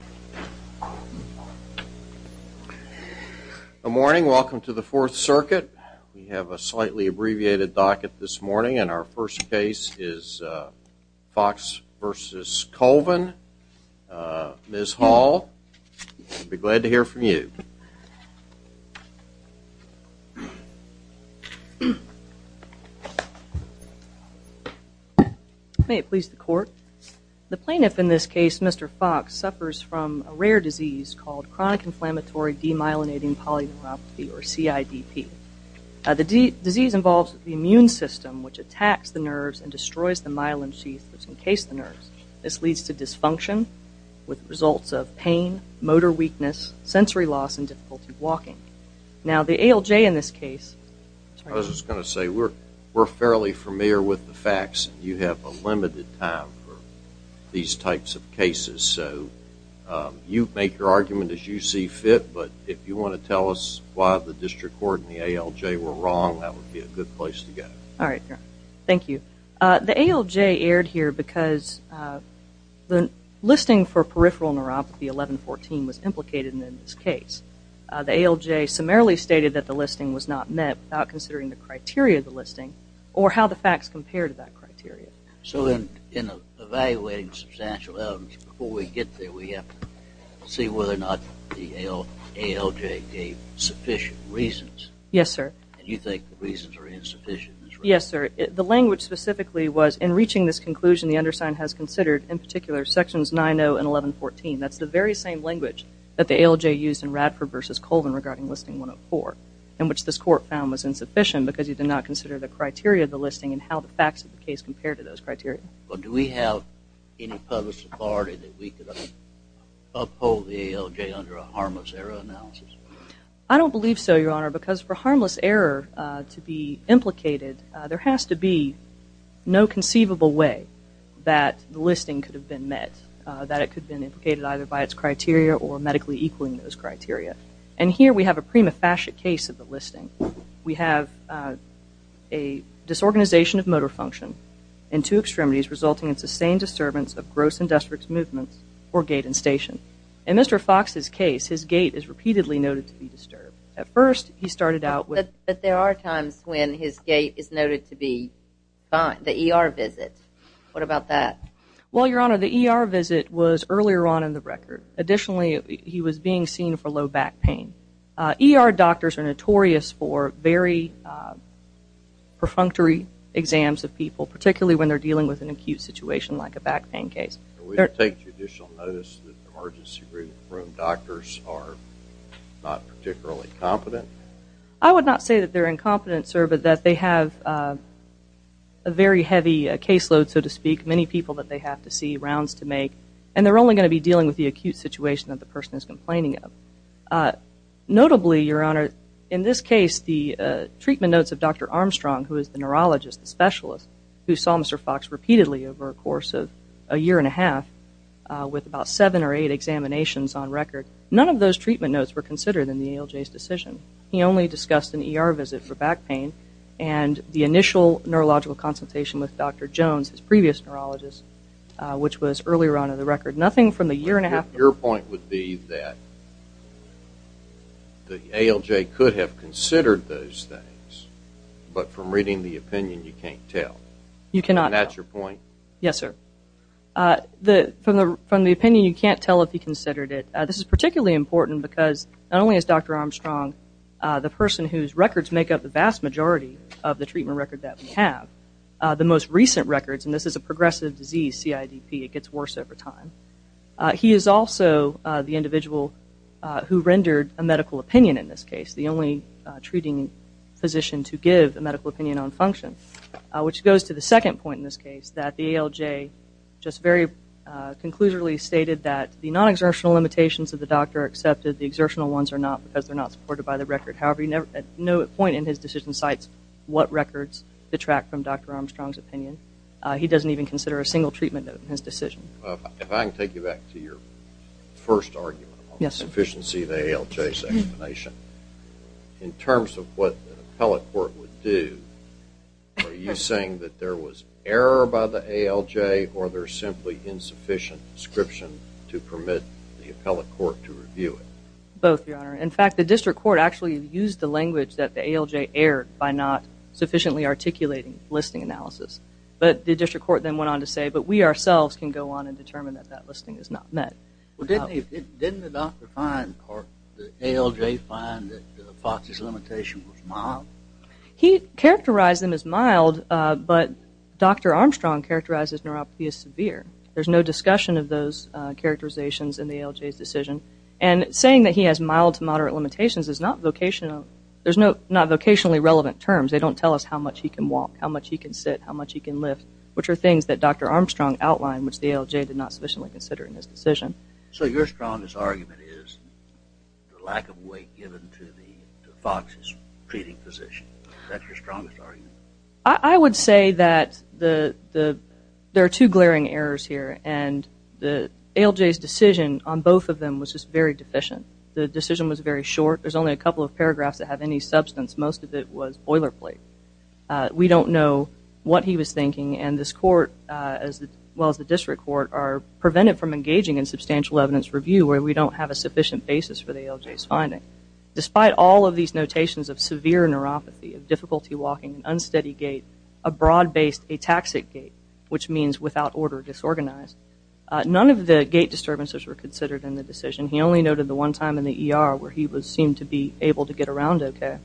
Good morning. Welcome to the Fourth Circuit. We have a slightly abbreviated docket this morning and our first case is Fox v. Colvin. Ms. Hall, we'll be glad to hear from you. Ms. Hall, may it please the court. The plaintiff in this case, Mr. Fox, suffers from a rare disease called chronic inflammatory demyelinating polyneuropathy or CIDP. The disease involves the immune system which attacks the nerves and destroys the myelin sheath which encase the nerves. This leads to dysfunction with results of pain, motor weakness, sensory loss and difficulty walking. Now the ALJ in this case, I was just going to say we're fairly familiar with the facts and you have a limited time for these types of cases so you make your argument as you see fit but if you want to tell us why the district court and the ALJ were wrong that would be a good place to go. All right. Thank you. The ALJ aired here because the listing for peripheral neuropathy 1114 was implicated in this case. The ALJ summarily stated that the listing was not met without considering the criteria of the listing or how the facts compare to that criteria. So in evaluating substantial evidence before we get there we have to see whether or not the ALJ gave sufficient reasons. Yes, sir. And you think the reasons are insufficient. Yes, sir. The language specifically was in conclusion the undersigned has considered in particular sections 90 and 1114. That's the very same language that the ALJ used in Radford versus Colvin regarding listing 104 in which this court found was insufficient because you did not consider the criteria of the listing and how the facts of the case compared to those criteria. But do we have any public authority that we could uphold the ALJ under a harmless error analysis? I don't believe so, your honor, because for harmless error to be implicated there has to be no conceivable way that the listing could have been met, that it could have been implicated either by its criteria or medically equaling those criteria. And here we have a prima facie case of the listing. We have a disorganization of motor function in two extremities resulting in sustained disturbance of gross industrious movements or gate and station. In Mr. Fox's case his gate is repeatedly noted to be disturbed. At first he started out with. But there are times when his gate is noted to be fine, the ER visit. What about that? Well, your honor, the ER visit was earlier on in the record. Additionally, he was being seen for low back pain. ER doctors are notorious for very perfunctory exams of people, particularly when they're dealing with an acute situation like a back pain case. We take judicial notice that the emergency room doctors are not particularly competent. I would not say that they're incompetent, sir, but that they have a very heavy caseload, so to speak, many people that they have to see, rounds to make. And they're only going to be dealing with the acute situation that the person is complaining of. Notably, your honor, in this case the treatment notes of Dr. Armstrong, who is the neurologist, the specialist, who saw Mr. Fox repeatedly over the course of a year and a half with about seven or eight examinations on record, none of those treatment notes were considered in the ALJ's decision. He only discussed an ER visit for back pain and the initial neurological consultation with Dr. Jones, his previous neurologist, which was earlier on in the record. Nothing from the year and a half. Your point would be that the ALJ could have considered those things, but from reading the opinion you can't tell. You cannot tell. And that's your point. Yes, sir. From the opinion you can't tell if he considered it. This is particularly important because not only is Dr. Armstrong the person whose records make up the vast majority of the treatment record that we have, the most recent records, and this is a progressive disease, CIDP, it gets worse over time. He is also the individual who rendered a medical opinion in this case, the only treating physician to give a medical opinion on function, which goes to the second point in this case, that the ALJ just very conclusively stated that the non-exertional limitations of the doctor accepted, the exertional ones are not because they are not supported by the record. However, at no point in his decision cites what records detract from Dr. Armstrong's opinion. He doesn't even consider a single treatment note in his decision. If I can take you back to your first argument on the sufficiency of the ALJ's explanation, in terms of what an appellate court would do, are you saying that there was error by the ALJ or there's simply insufficient description to permit the appellate court to review it? Both, Your Honor. In fact, the district court actually used the language that the ALJ erred by not sufficiently articulating listing analysis. But the district court then went on to say, but we ourselves can go on and determine that that listing is not met. Well, didn't the doctor find, or the ALJ find that Fox's limitation was mild? He characterized them as mild, but Dr. Armstrong characterizes neuropathy as severe. There's no discussion of those characterizations in the ALJ's decision. And saying that he has mild to moderate limitations is not vocationally relevant terms. They don't tell us how much he can walk, how much he can sit, how much he can lift, which are things that Dr. Armstrong outlined, which the ALJ did not sufficiently consider in his decision. So your strongest argument is the lack of weight given to the Fox's treating physician. That's your strongest argument? I would say that the, there are two glaring errors here, and the ALJ's decision on both of them was just very deficient. The decision was very short. There's only a couple of paragraphs that have any substance. Most of it was boilerplate. We don't know what he was thinking, and this court, as well as the district court, are prevented from engaging in substantial evidence review where we don't have a sufficient basis for the ALJ's finding. Despite all of these notations of severe neuropathy, of difficulty walking, an unsteady gait, a broad-based ataxic gait, which means without order, disorganized, none of the gait disturbances were considered in the decision. He only noted the one time in the ER where he seemed to be able to get around okay.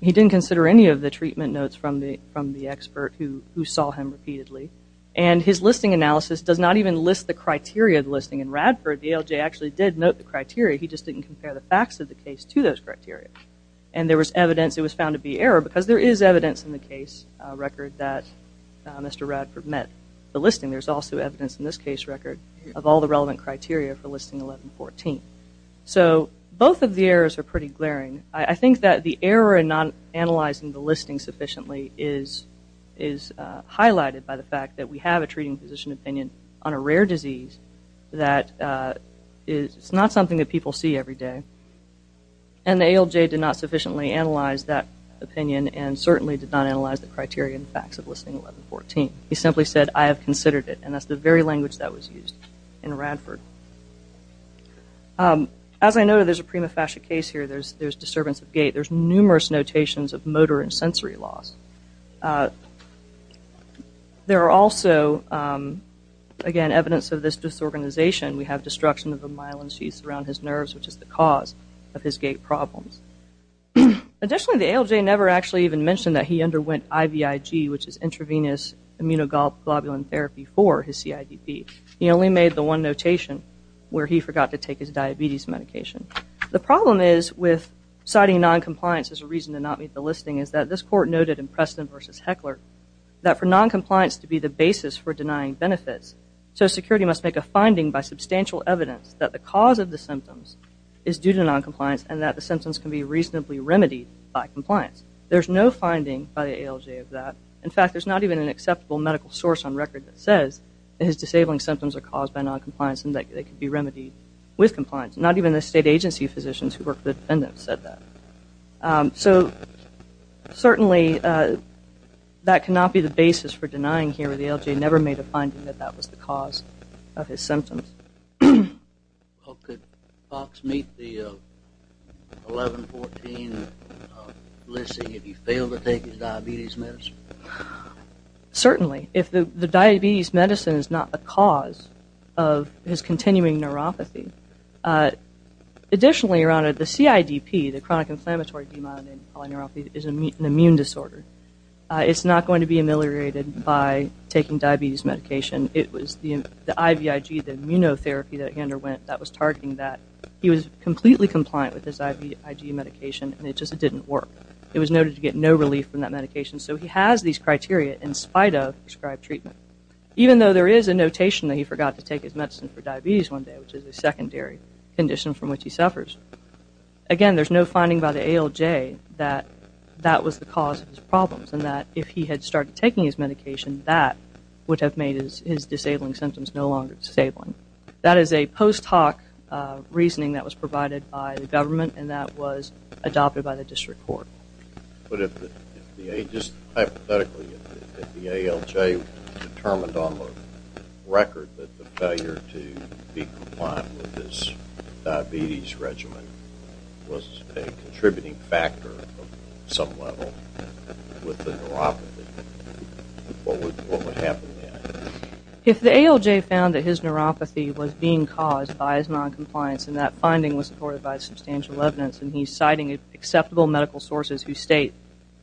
He didn't consider any of the treatment notes from the expert who saw him repeatedly. And his listing analysis does not even list the criteria of the listing. In Radford, the ALJ actually did note the criteria, he just didn't compare the facts of the case to those criteria. And there was evidence, it was found to be error, because there is evidence in the case record that Mr. Radford met the listing. There's also evidence in this case record of all the relevant criteria for listing 1114. So both of the errors are pretty glaring. I think that the error in not analyzing the listing sufficiently is highlighted by the fact that we have a treating physician opinion on a rare disease that is not something that people see every day. And the ALJ did not sufficiently analyze that opinion and certainly did not analyze the criteria and facts of listing 1114. He simply said, I have considered it. And that's the very language that was used in Radford. As I noted, there's a prima facie case here. There's disturbance of gait. There's numerous notations of motor and sensory loss. There are also, again, evidence of this disorganization. We have destruction of the myelin sheaths around his nerves, which is the cause of his gait problems. Additionally, the ALJ never actually even mentioned that he underwent IVIG, which is intravenous immunoglobulin therapy for his CIDP. He only made the one notation where he forgot to take his diabetes medication. The problem is with citing noncompliance as a reason to not meet the listing is that this court noted in Preston v. Heckler that for noncompliance to be the basis for denying benefits, so security must make a finding by substantial evidence that the cause of the symptoms is due to noncompliance and that the symptoms can be reasonably remedied by the ALJ of that. In fact, there's not even an acceptable medical source on record that says that his disabling symptoms are caused by noncompliance and that they can be remedied with compliance. Not even the state agency physicians who work with defendants said that. So certainly, that cannot be the basis for denying here. The ALJ never made a finding that that was the cause of his symptoms. Well, could Fox meet the 1114 listing if he failed to take his diabetes medicine? Certainly. If the diabetes medicine is not the cause of his continuing neuropathy. Additionally, Your Honor, the CIDP, the chronic inflammatory demyelinating polyneuropathy, is an immune disorder. It's not going to be ameliorated by taking diabetes medication. It was the IVIG, the immunotherapy that he underwent that was targeting that. He was completely compliant with his IVIG medication and it just didn't work. It was noted to get no relief from that medication, so he has these criteria in spite of prescribed treatment. Even though there is a notation that he forgot to take his medicine for diabetes one day, which is a secondary condition from which he suffers. Again, there's no finding by the ALJ that that was the cause of his problems and that if he had started taking his medication, even that would have made his disabling symptoms no longer disabling. That is a post hoc reasoning that was provided by the government and that was adopted by the district court. But if the ALJ determined on the record that the failure to be compliant with his diabetes regimen was a contributing factor of some level with the neuropathy, what would happen then? If the ALJ found that his neuropathy was being caused by his noncompliance and that finding was supported by substantial evidence and he's citing acceptable medical sources who state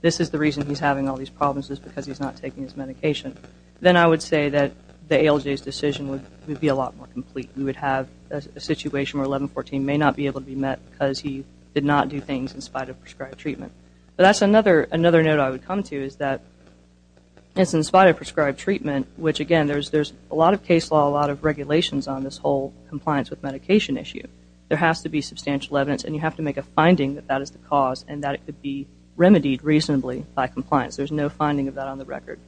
this is the reason he's having all these problems is because he's not taking his medication, then I would say that the ALJ's decision would be a lot more complete. We would have a situation where 1114 may not be able to be met because he did not do things in spite of prescribed treatment. But that's another note I would come to is that it's in spite of prescribed treatment, which again, there's a lot of case law, a lot of regulations on this whole compliance with medication issue. There has to be substantial evidence and you have to make a finding that that is the cause and that it could be remedied reasonably by compliance. There's no finding of that on the record.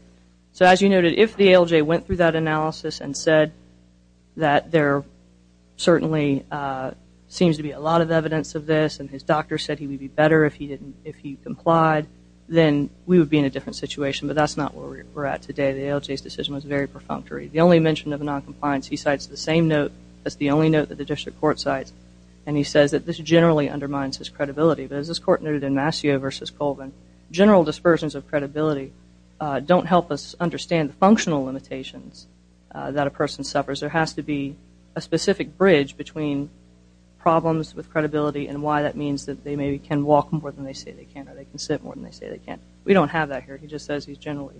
So as you noted, if the ALJ went through that analysis and said that there certainly seems to be a lot of evidence of this and his doctor said he would be better if he complied, then we would be in a different situation. But that's not where we're at today. The ALJ's decision was very perfunctory. The only mention of noncompliance, he cites the same note as the only note that the district court cites. And he says that this generally undermines his credibility. But as this court noted in Mascio v. Colvin, general dispersions of credibility don't help us understand the functional limitations that a person suffers. There has to be a specific bridge between problems with credibility and why that means that they maybe can walk more than they say they can or they can sit more than they say they can. We don't have that here. He just says he's generally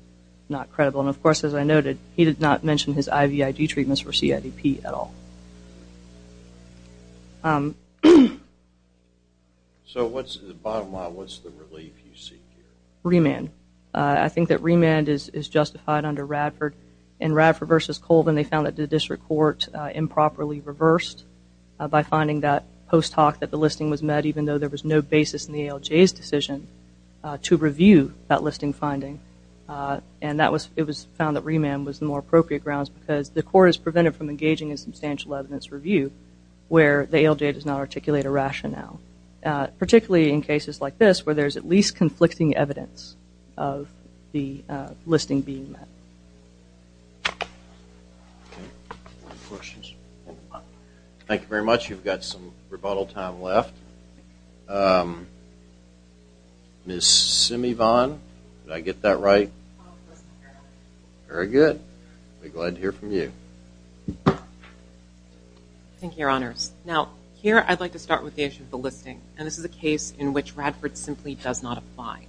not credible. And of course, as I noted, he did not mention his IVID treatments were CIDP at all. So what's the bottom line? What's the relief you see here? Remand. I think that remand is justified under Radford. In Radford v. Colvin, they found that the district court improperly reversed by finding that post hoc that the listing was met even though there was no basis in the ALJ's decision to review that listing finding. And it was found that remand was the more appropriate grounds because the court is prevented from engaging in substantial evidence review where the ALJ does not articulate a rationale, particularly in cases like this where there's at least conflicting evidence of the listing being met. Thank you very much. You've got some rebuttal time left. Ms. Simivon, did I get that right? Very good. I'll be glad to hear from you. Thank you, Your Honors. Now, here I'd like to start with the issue of the listing. And this is a case in which Radford simply does not apply.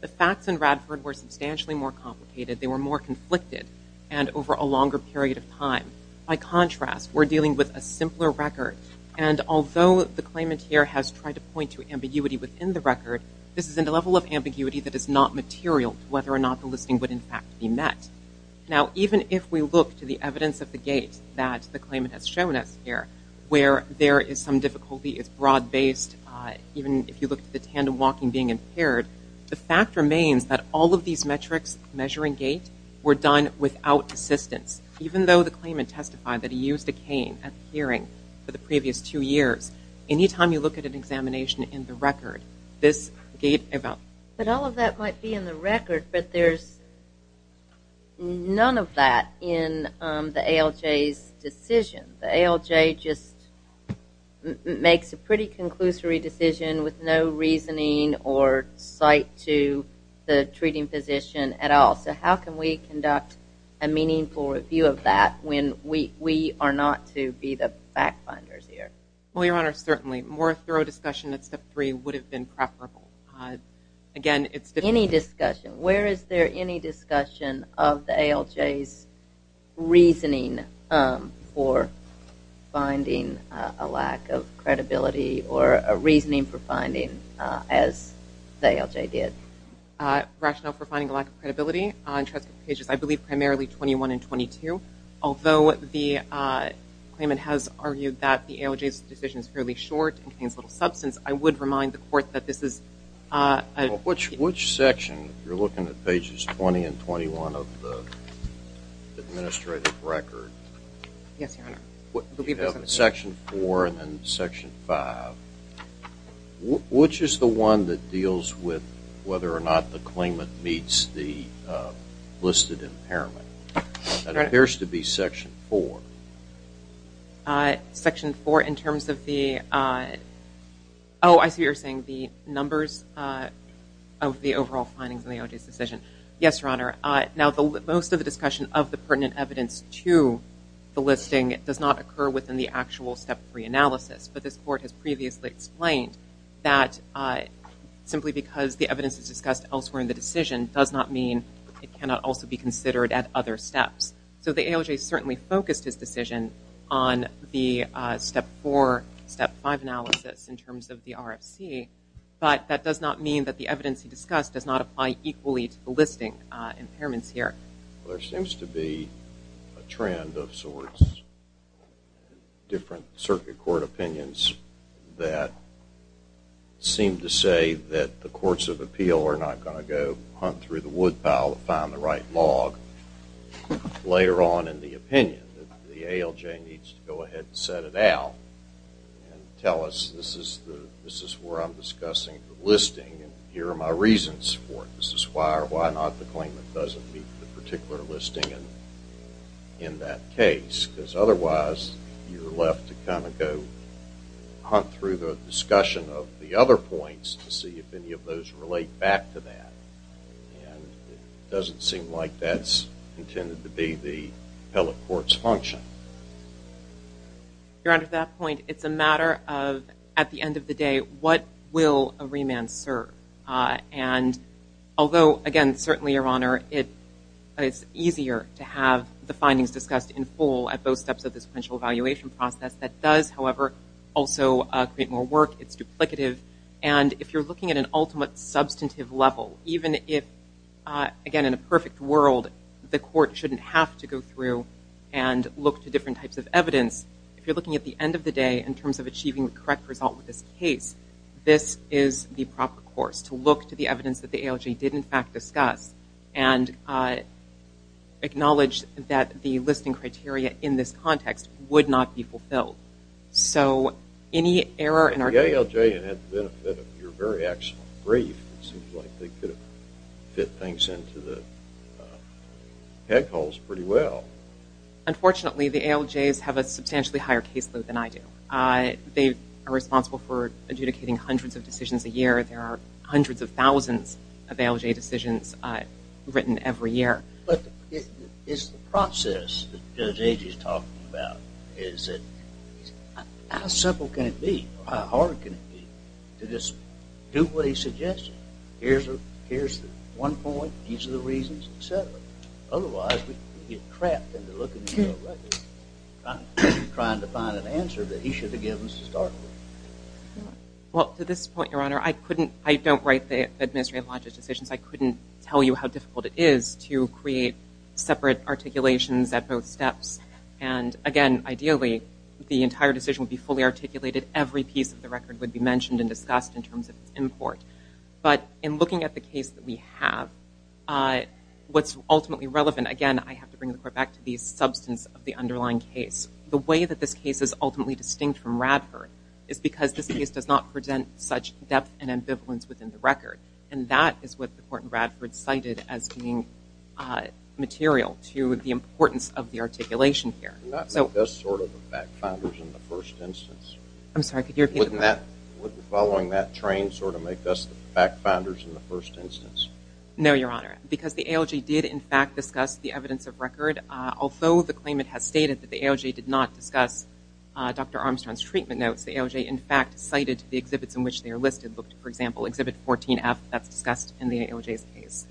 The facts in Radford were substantially more complicated. They were more conflicted and over a longer period of time. By contrast, we're dealing with a simpler record. And although the claimant here has tried to point to ambiguity within the record, this is in a level of ambiguity that is not material to whether or not the listing would in fact be met. Now, even if we look to the evidence of the gait that the claimant has shown us here, where there is some difficulty, it's broad-based, even if you look at the tandem walking being impaired, the fact remains that all of these metrics measuring gait were done without assistance. Even though the claimant testified that he used a cane at the hearing for the previous two years, any time you look at an examination in the record, this gait evolved. But all of that might be in the record, but there's none of that in the ALJ's decision. The ALJ just makes a pretty conclusory decision with no reasoning or cite to the treating physician at all. So how can we conduct a meaningful review of that when we are not to be the back-finders here? Well, Your Honor, certainly. More thorough discussion at Step 3 would have been preferable. Any discussion? Where is there any discussion of the ALJ's reasoning for finding a lack of credibility or a reasoning for finding, as the ALJ did? Rationale for finding a lack of credibility on transcript pages, I believe primarily 21 and 22. Although the claimant has argued that the ALJ's decision is fairly short and contains little substance, I would remind the Court that this is a- Which section? You're looking at pages 20 and 21 of the administrative record. Yes, Your Honor. You have section 4 and then section 5. Which is the one that deals with whether or not the claimant meets the listed impairment? That appears to be section 4. Section 4 in terms of the- Oh, I see what you're saying, the numbers of the overall findings in the ALJ's decision. Yes, Your Honor. Now, most of the discussion of the pertinent evidence to the listing does not occur within the actual Step 3 analysis, but this Court has previously explained that simply because the evidence is discussed elsewhere in the decision does not mean it cannot also be considered at other steps. So the ALJ certainly focused his decision on the Step 4, Step 5 analysis in terms of the RFC, but that does not mean that the evidence he discussed does not apply equally to the listing impairments here. There seems to be a trend of sorts, different circuit court opinions, that seem to say that the courts of appeal are not going to go hunt through the woodpile to find the right log. Later on in the opinion, the ALJ needs to go ahead and set it out and tell us this is where I'm discussing the listing and here are my reasons for it. This is why or why not the claimant doesn't meet the particular listing in that case, because otherwise you're left to kind of go hunt through the discussion of the other points to see if any of those relate back to that. And it doesn't seem like that's intended to be the appellate court's function. Your Honor, to that point, it's a matter of, at the end of the day, what will a remand serve? And although, again, certainly, Your Honor, it's easier to have the findings discussed in full at both steps of this potential evaluation process, that does, however, also create more work. It's duplicative. And if you're looking at an ultimate substantive level, even if, again, in a perfect world, the court shouldn't have to go through and look to different types of evidence, if you're looking at the end of the day in terms of achieving the correct result with this case, this is the proper course to look to the evidence that the ALJ did, in fact, discuss and acknowledge that the listing criteria in this context would not be fulfilled. So any error in our case... The ALJ had the benefit of your very excellent brief. It seems like they could have fit things into the peg holes pretty well. Unfortunately, the ALJs have a substantially higher caseload than I do. They are responsible for adjudicating hundreds of decisions a year. There are hundreds of thousands of ALJ decisions written every year. But it's the process that Judge Agee is talking about. How simple can it be or how hard can it be to just do what he's suggesting? Here's the one point, these are the reasons, et cetera. Otherwise, we get trapped into looking at the records, trying to find an answer that he should have given us to start with. Well, to this point, Your Honor, I don't write the administrative logic decisions. I couldn't tell you how difficult it is to create separate articulations at both steps. And again, ideally, the entire decision would be fully articulated. Every piece of the record would be mentioned and discussed in terms of its import. But in looking at the case that we have, what's ultimately relevant, again, I have to bring the Court back to the substance of the underlying case. The way that this case is ultimately distinct from Radford is because this case does not present such depth and ambivalence within the record. And that is what the Court in Radford cited as being material to the importance of the articulation here. It does not make us sort of the fact-founders in the first instance. I'm sorry, could you repeat the question? Wouldn't following that train sort of make us the fact-founders in the first instance? No, Your Honor, because the ALJ did in fact discuss the evidence of record. Although the claimant has stated that the ALJ did not discuss Dr. Armstrong's treatment notes, the ALJ in fact cited the exhibits in which they are listed. Look, for example, Exhibit 14F, that's discussed in the ALJ's case.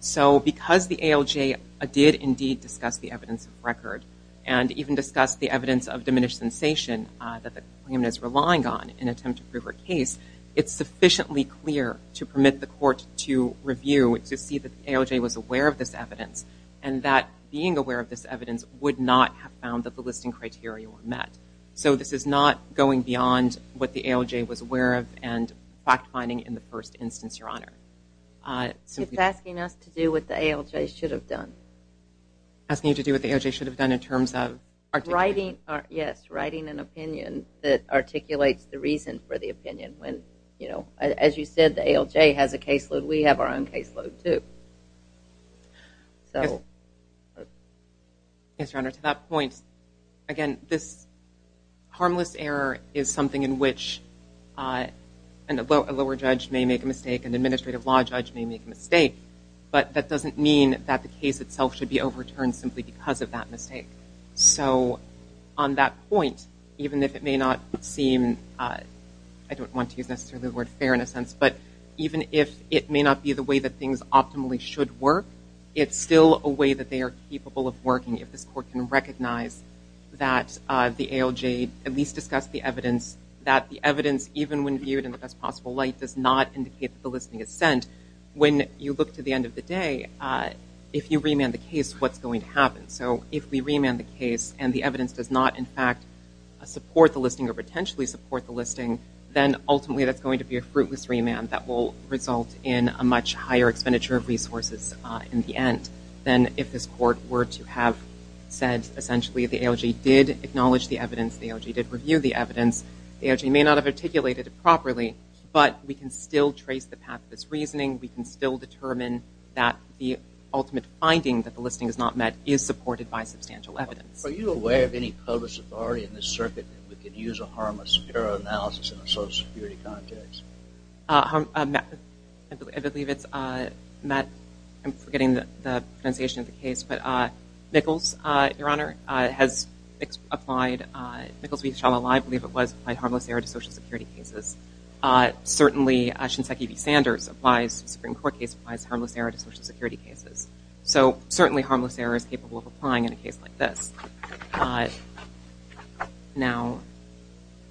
So because the ALJ did indeed discuss the evidence of record, and even discussed the evidence of diminished sensation that the claimant is relying on in an attempt to prove her case, it's sufficiently clear to permit the Court to review, to see that the ALJ was aware of this evidence, and that being aware of this evidence would not have found that the listing criteria were met. So this is not going beyond what the ALJ was aware of and fact-finding in the first instance, Your Honor. It's asking us to do what the ALJ should have done. Asking you to do what the ALJ should have done in terms of articulating? Yes, writing an opinion that articulates the reason for the opinion. As you said, the ALJ has a caseload. We have our own caseload, too. Yes, Your Honor, to that point, again, this harmless error is something in which a lower judge may make a mistake, an administrative law judge may make a mistake, but that doesn't mean that the case itself should be overturned simply because of that mistake. So on that point, even if it may not seem – I don't want to use necessarily the word fair in a sense – but even if it may not be the way that things optimally should work, it's still a way that they are capable of working if this Court can recognize that the ALJ at least discussed the evidence, that the evidence, even when viewed in the best possible light, does not indicate that the listing is sent. When you look to the end of the day, if you remand the case, what's going to happen? So if we remand the case and the evidence does not, in fact, support the listing or potentially support the listing, then ultimately that's going to be a fruitless remand that will result in a much higher expenditure of resources in the end than if this Court were to have said essentially the ALJ did acknowledge the evidence, the ALJ did review the evidence. The ALJ may not have articulated it properly, but we can still trace the path of this reasoning. We can still determine that the ultimate finding that the listing is not met is supported by substantial evidence. Are you aware of any public authority in this circuit that could use a harmless error analysis in a social security context? I believe it's Matt. I'm forgetting the pronunciation of the case. But Nichols, Your Honor, has applied, Nichols v. Shalala, I believe it was, applied harmless error to social security cases. Certainly, Shinseki v. Sanders applies, Supreme Court case applies harmless error to social security cases. So certainly harmless error is capable of applying in a case like this. Now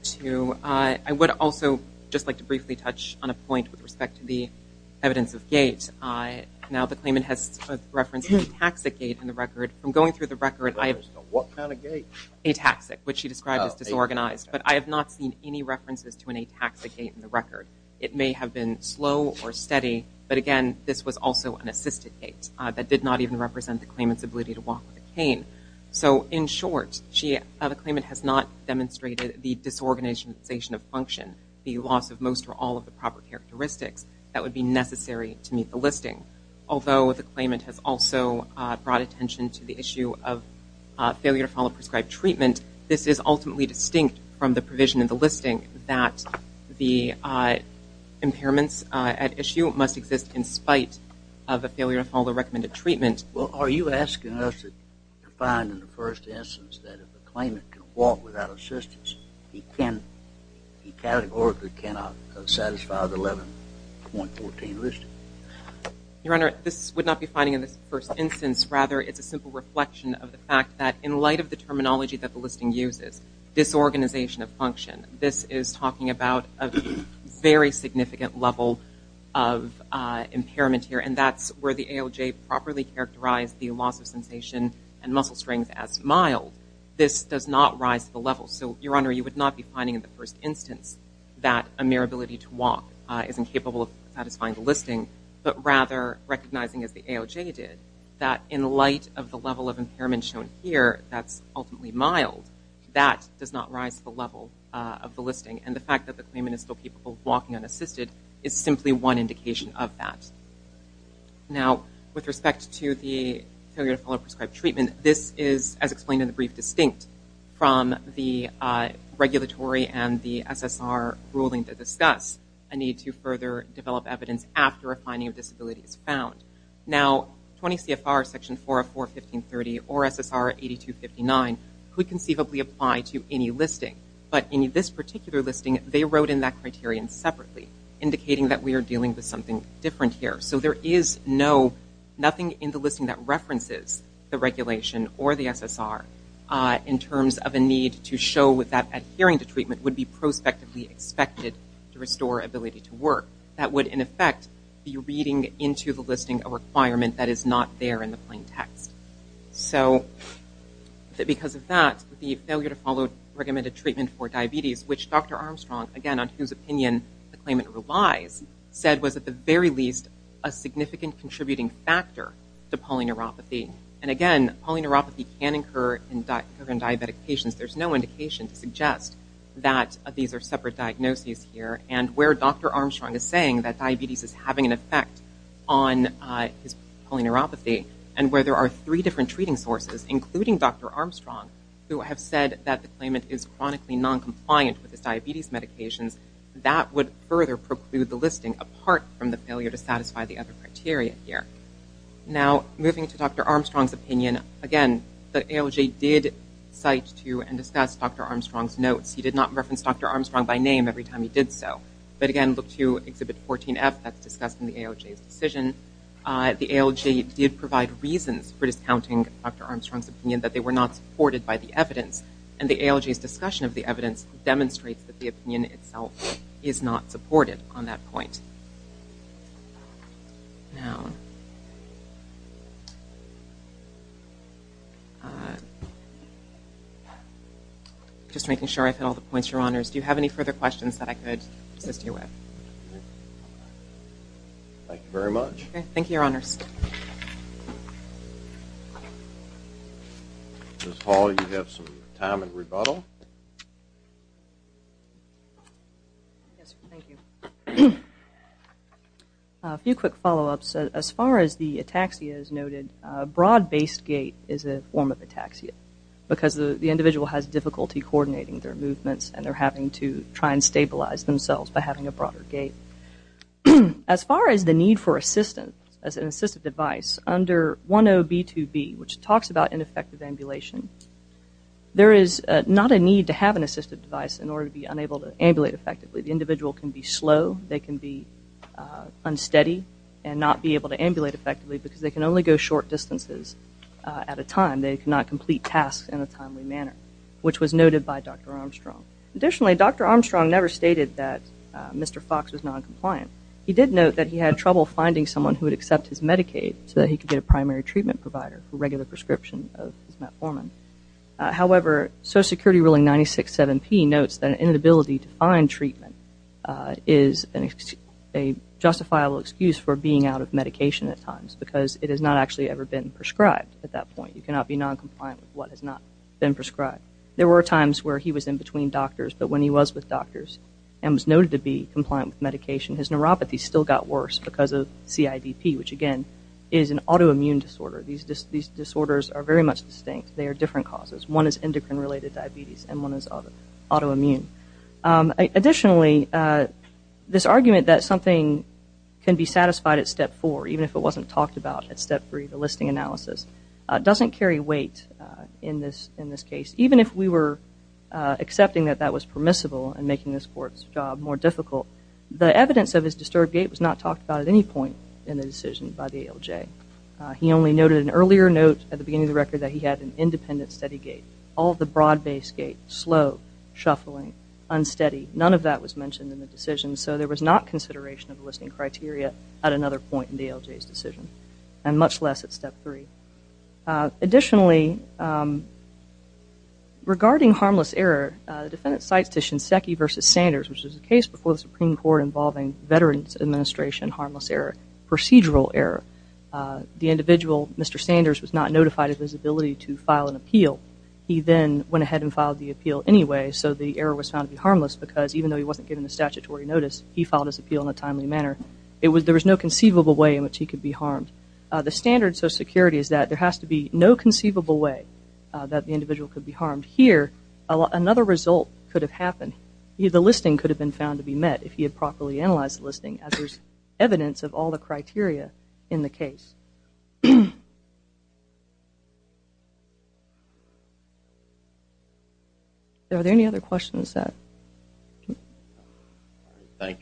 to, I would also just like to briefly touch on a point with respect to the evidence of gait. Now the claimant has referenced an ataxic gait in the record. From going through the record, I have. What kind of gait? Ataxic, which she described as disorganized. But I have not seen any references to an ataxic gait in the record. It may have been slow or steady, but again, this was also an assisted gait. So in short, the claimant has not demonstrated the disorganization of function, the loss of most or all of the proper characteristics that would be necessary to meet the listing. Although the claimant has also brought attention to the issue of failure to follow prescribed treatment, this is ultimately distinct from the provision in the listing that the impairments at issue must exist in spite of a failure to follow recommended treatment. Well, are you asking us to find in the first instance that if a claimant can walk without assistance, he categorically cannot satisfy the 11.14 listing? Your Honor, this would not be finding in the first instance. Rather, it's a simple reflection of the fact that in light of the terminology that the listing uses, disorganization of function, this is talking about a very significant level of impairment here, and that's where the AOJ properly characterized the loss of sensation and muscle strains as mild. This does not rise to the level. So, Your Honor, you would not be finding in the first instance that a mere ability to walk is incapable of satisfying the listing, but rather recognizing, as the AOJ did, that in light of the level of impairment shown here that's ultimately mild, that does not rise to the level of the listing. And the fact that the claimant is still capable of walking unassisted is simply one indication of that. Now, with respect to the failure to follow prescribed treatment, this is, as explained in the brief, distinct from the regulatory and the SSR ruling that discuss a need to further develop evidence after a finding of disability is found. Now, 20 CFR section 404.1530 or SSR 8259 could conceivably apply to any listing, but in this particular listing they wrote in that criterion separately, indicating that we are dealing with something different here. So there is nothing in the listing that references the regulation or the SSR in terms of a need to show that adhering to treatment would be prospectively expected to restore ability to work. That would, in effect, be reading into the listing a requirement that is not there in the plain text. So because of that, the failure to follow recommended treatment for diabetes, which Dr. Armstrong, again, on whose opinion the claimant relies, said was at the very least a significant contributing factor to polyneuropathy. And again, polyneuropathy can occur in diabetic patients. There's no indication to suggest that these are separate diagnoses here. And where Dr. Armstrong is saying that diabetes is having an effect on his polyneuropathy and where there are three different treating sources, including Dr. Armstrong, who have said that the claimant is chronically noncompliant with his diabetes medications, that would further preclude the listing apart from the failure to satisfy the other criteria here. Now, moving to Dr. Armstrong's opinion, again, the ALJ did cite to and discuss Dr. Armstrong's notes. He did not reference Dr. Armstrong by name every time he did so. But again, look to Exhibit 14F, that's discussing the ALJ's decision. The ALJ did provide reasons for discounting Dr. Armstrong's opinion, that they were not supported by the evidence. And the ALJ's discussion of the evidence demonstrates that the opinion itself is not supported on that point. Just making sure I've hit all the points, Your Honors. Do you have any further questions that I could assist you with? Thank you very much. Thank you, Your Honors. Ms. Hall, you have some time in rebuttal. Yes, thank you. A few quick follow-ups. As far as the ataxia is noted, broad-based gait is a form of ataxia, because the individual has difficulty coordinating their movements and they're having to try and stabilize themselves by having a broader gait. As far as the need for assistance, as an assistive device, under 10B2B, which talks about ineffective ambulation, there is not a need to have an assistive device in order to be unable to ambulate effectively. The individual can be slow. They can be unsteady and not be able to ambulate effectively, because they can only go short distances at a time. They cannot complete tasks in a timely manner, which was noted by Dr. Armstrong. Additionally, Dr. Armstrong never stated that Mr. Fox was noncompliant. He did note that he had trouble finding someone who would accept his Medicaid so that he could get a primary treatment provider for regular prescription of metformin. However, Social Security ruling 967P notes that an inability to find treatment is a justifiable excuse for being out of medication at times, because it has not actually ever been prescribed at that point. You cannot be noncompliant with what has not been prescribed. There were times where he was in between doctors, but when he was with doctors and was noted to be compliant with medication, his neuropathy still got worse because of CIDP, which again is an autoimmune disorder. These disorders are very much distinct. They are different causes. One is endocrine-related diabetes, and one is autoimmune. Additionally, this argument that something can be satisfied at step four, even if it wasn't talked about at step three, the listing analysis, doesn't carry weight in this case. Even if we were accepting that that was permissible and making this court's job more difficult, the evidence of his disturbed gait was not talked about at any point in the decision by the ALJ. He only noted an earlier note at the beginning of the record that he had an independent steady gait. All of the broad-based gait, slow, shuffling, unsteady, none of that was mentioned in the decision, so there was not consideration of the listing criteria at another point in the ALJ's decision, and much less at step three. Additionally, regarding harmless error, the defendant cites the Shinseki v. Sanders, which was a case before the Supreme Court involving Veterans Administration harmless error, procedural error. The individual, Mr. Sanders, was not notified of his ability to file an appeal. He then went ahead and filed the appeal anyway, so the error was found to be harmless because even though he wasn't given the statutory notice, he filed his appeal in a timely manner. There was no conceivable way in which he could be harmed. The standard in Social Security is that there has to be no conceivable way that the individual could be harmed. Here, another result could have happened. The listing could have been found to be met if he had properly analyzed the listing, as there's evidence of all the criteria in the case. Are there any other questions? Thank you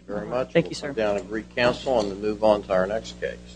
very much. Thank you, sir. We'll move on to our next case.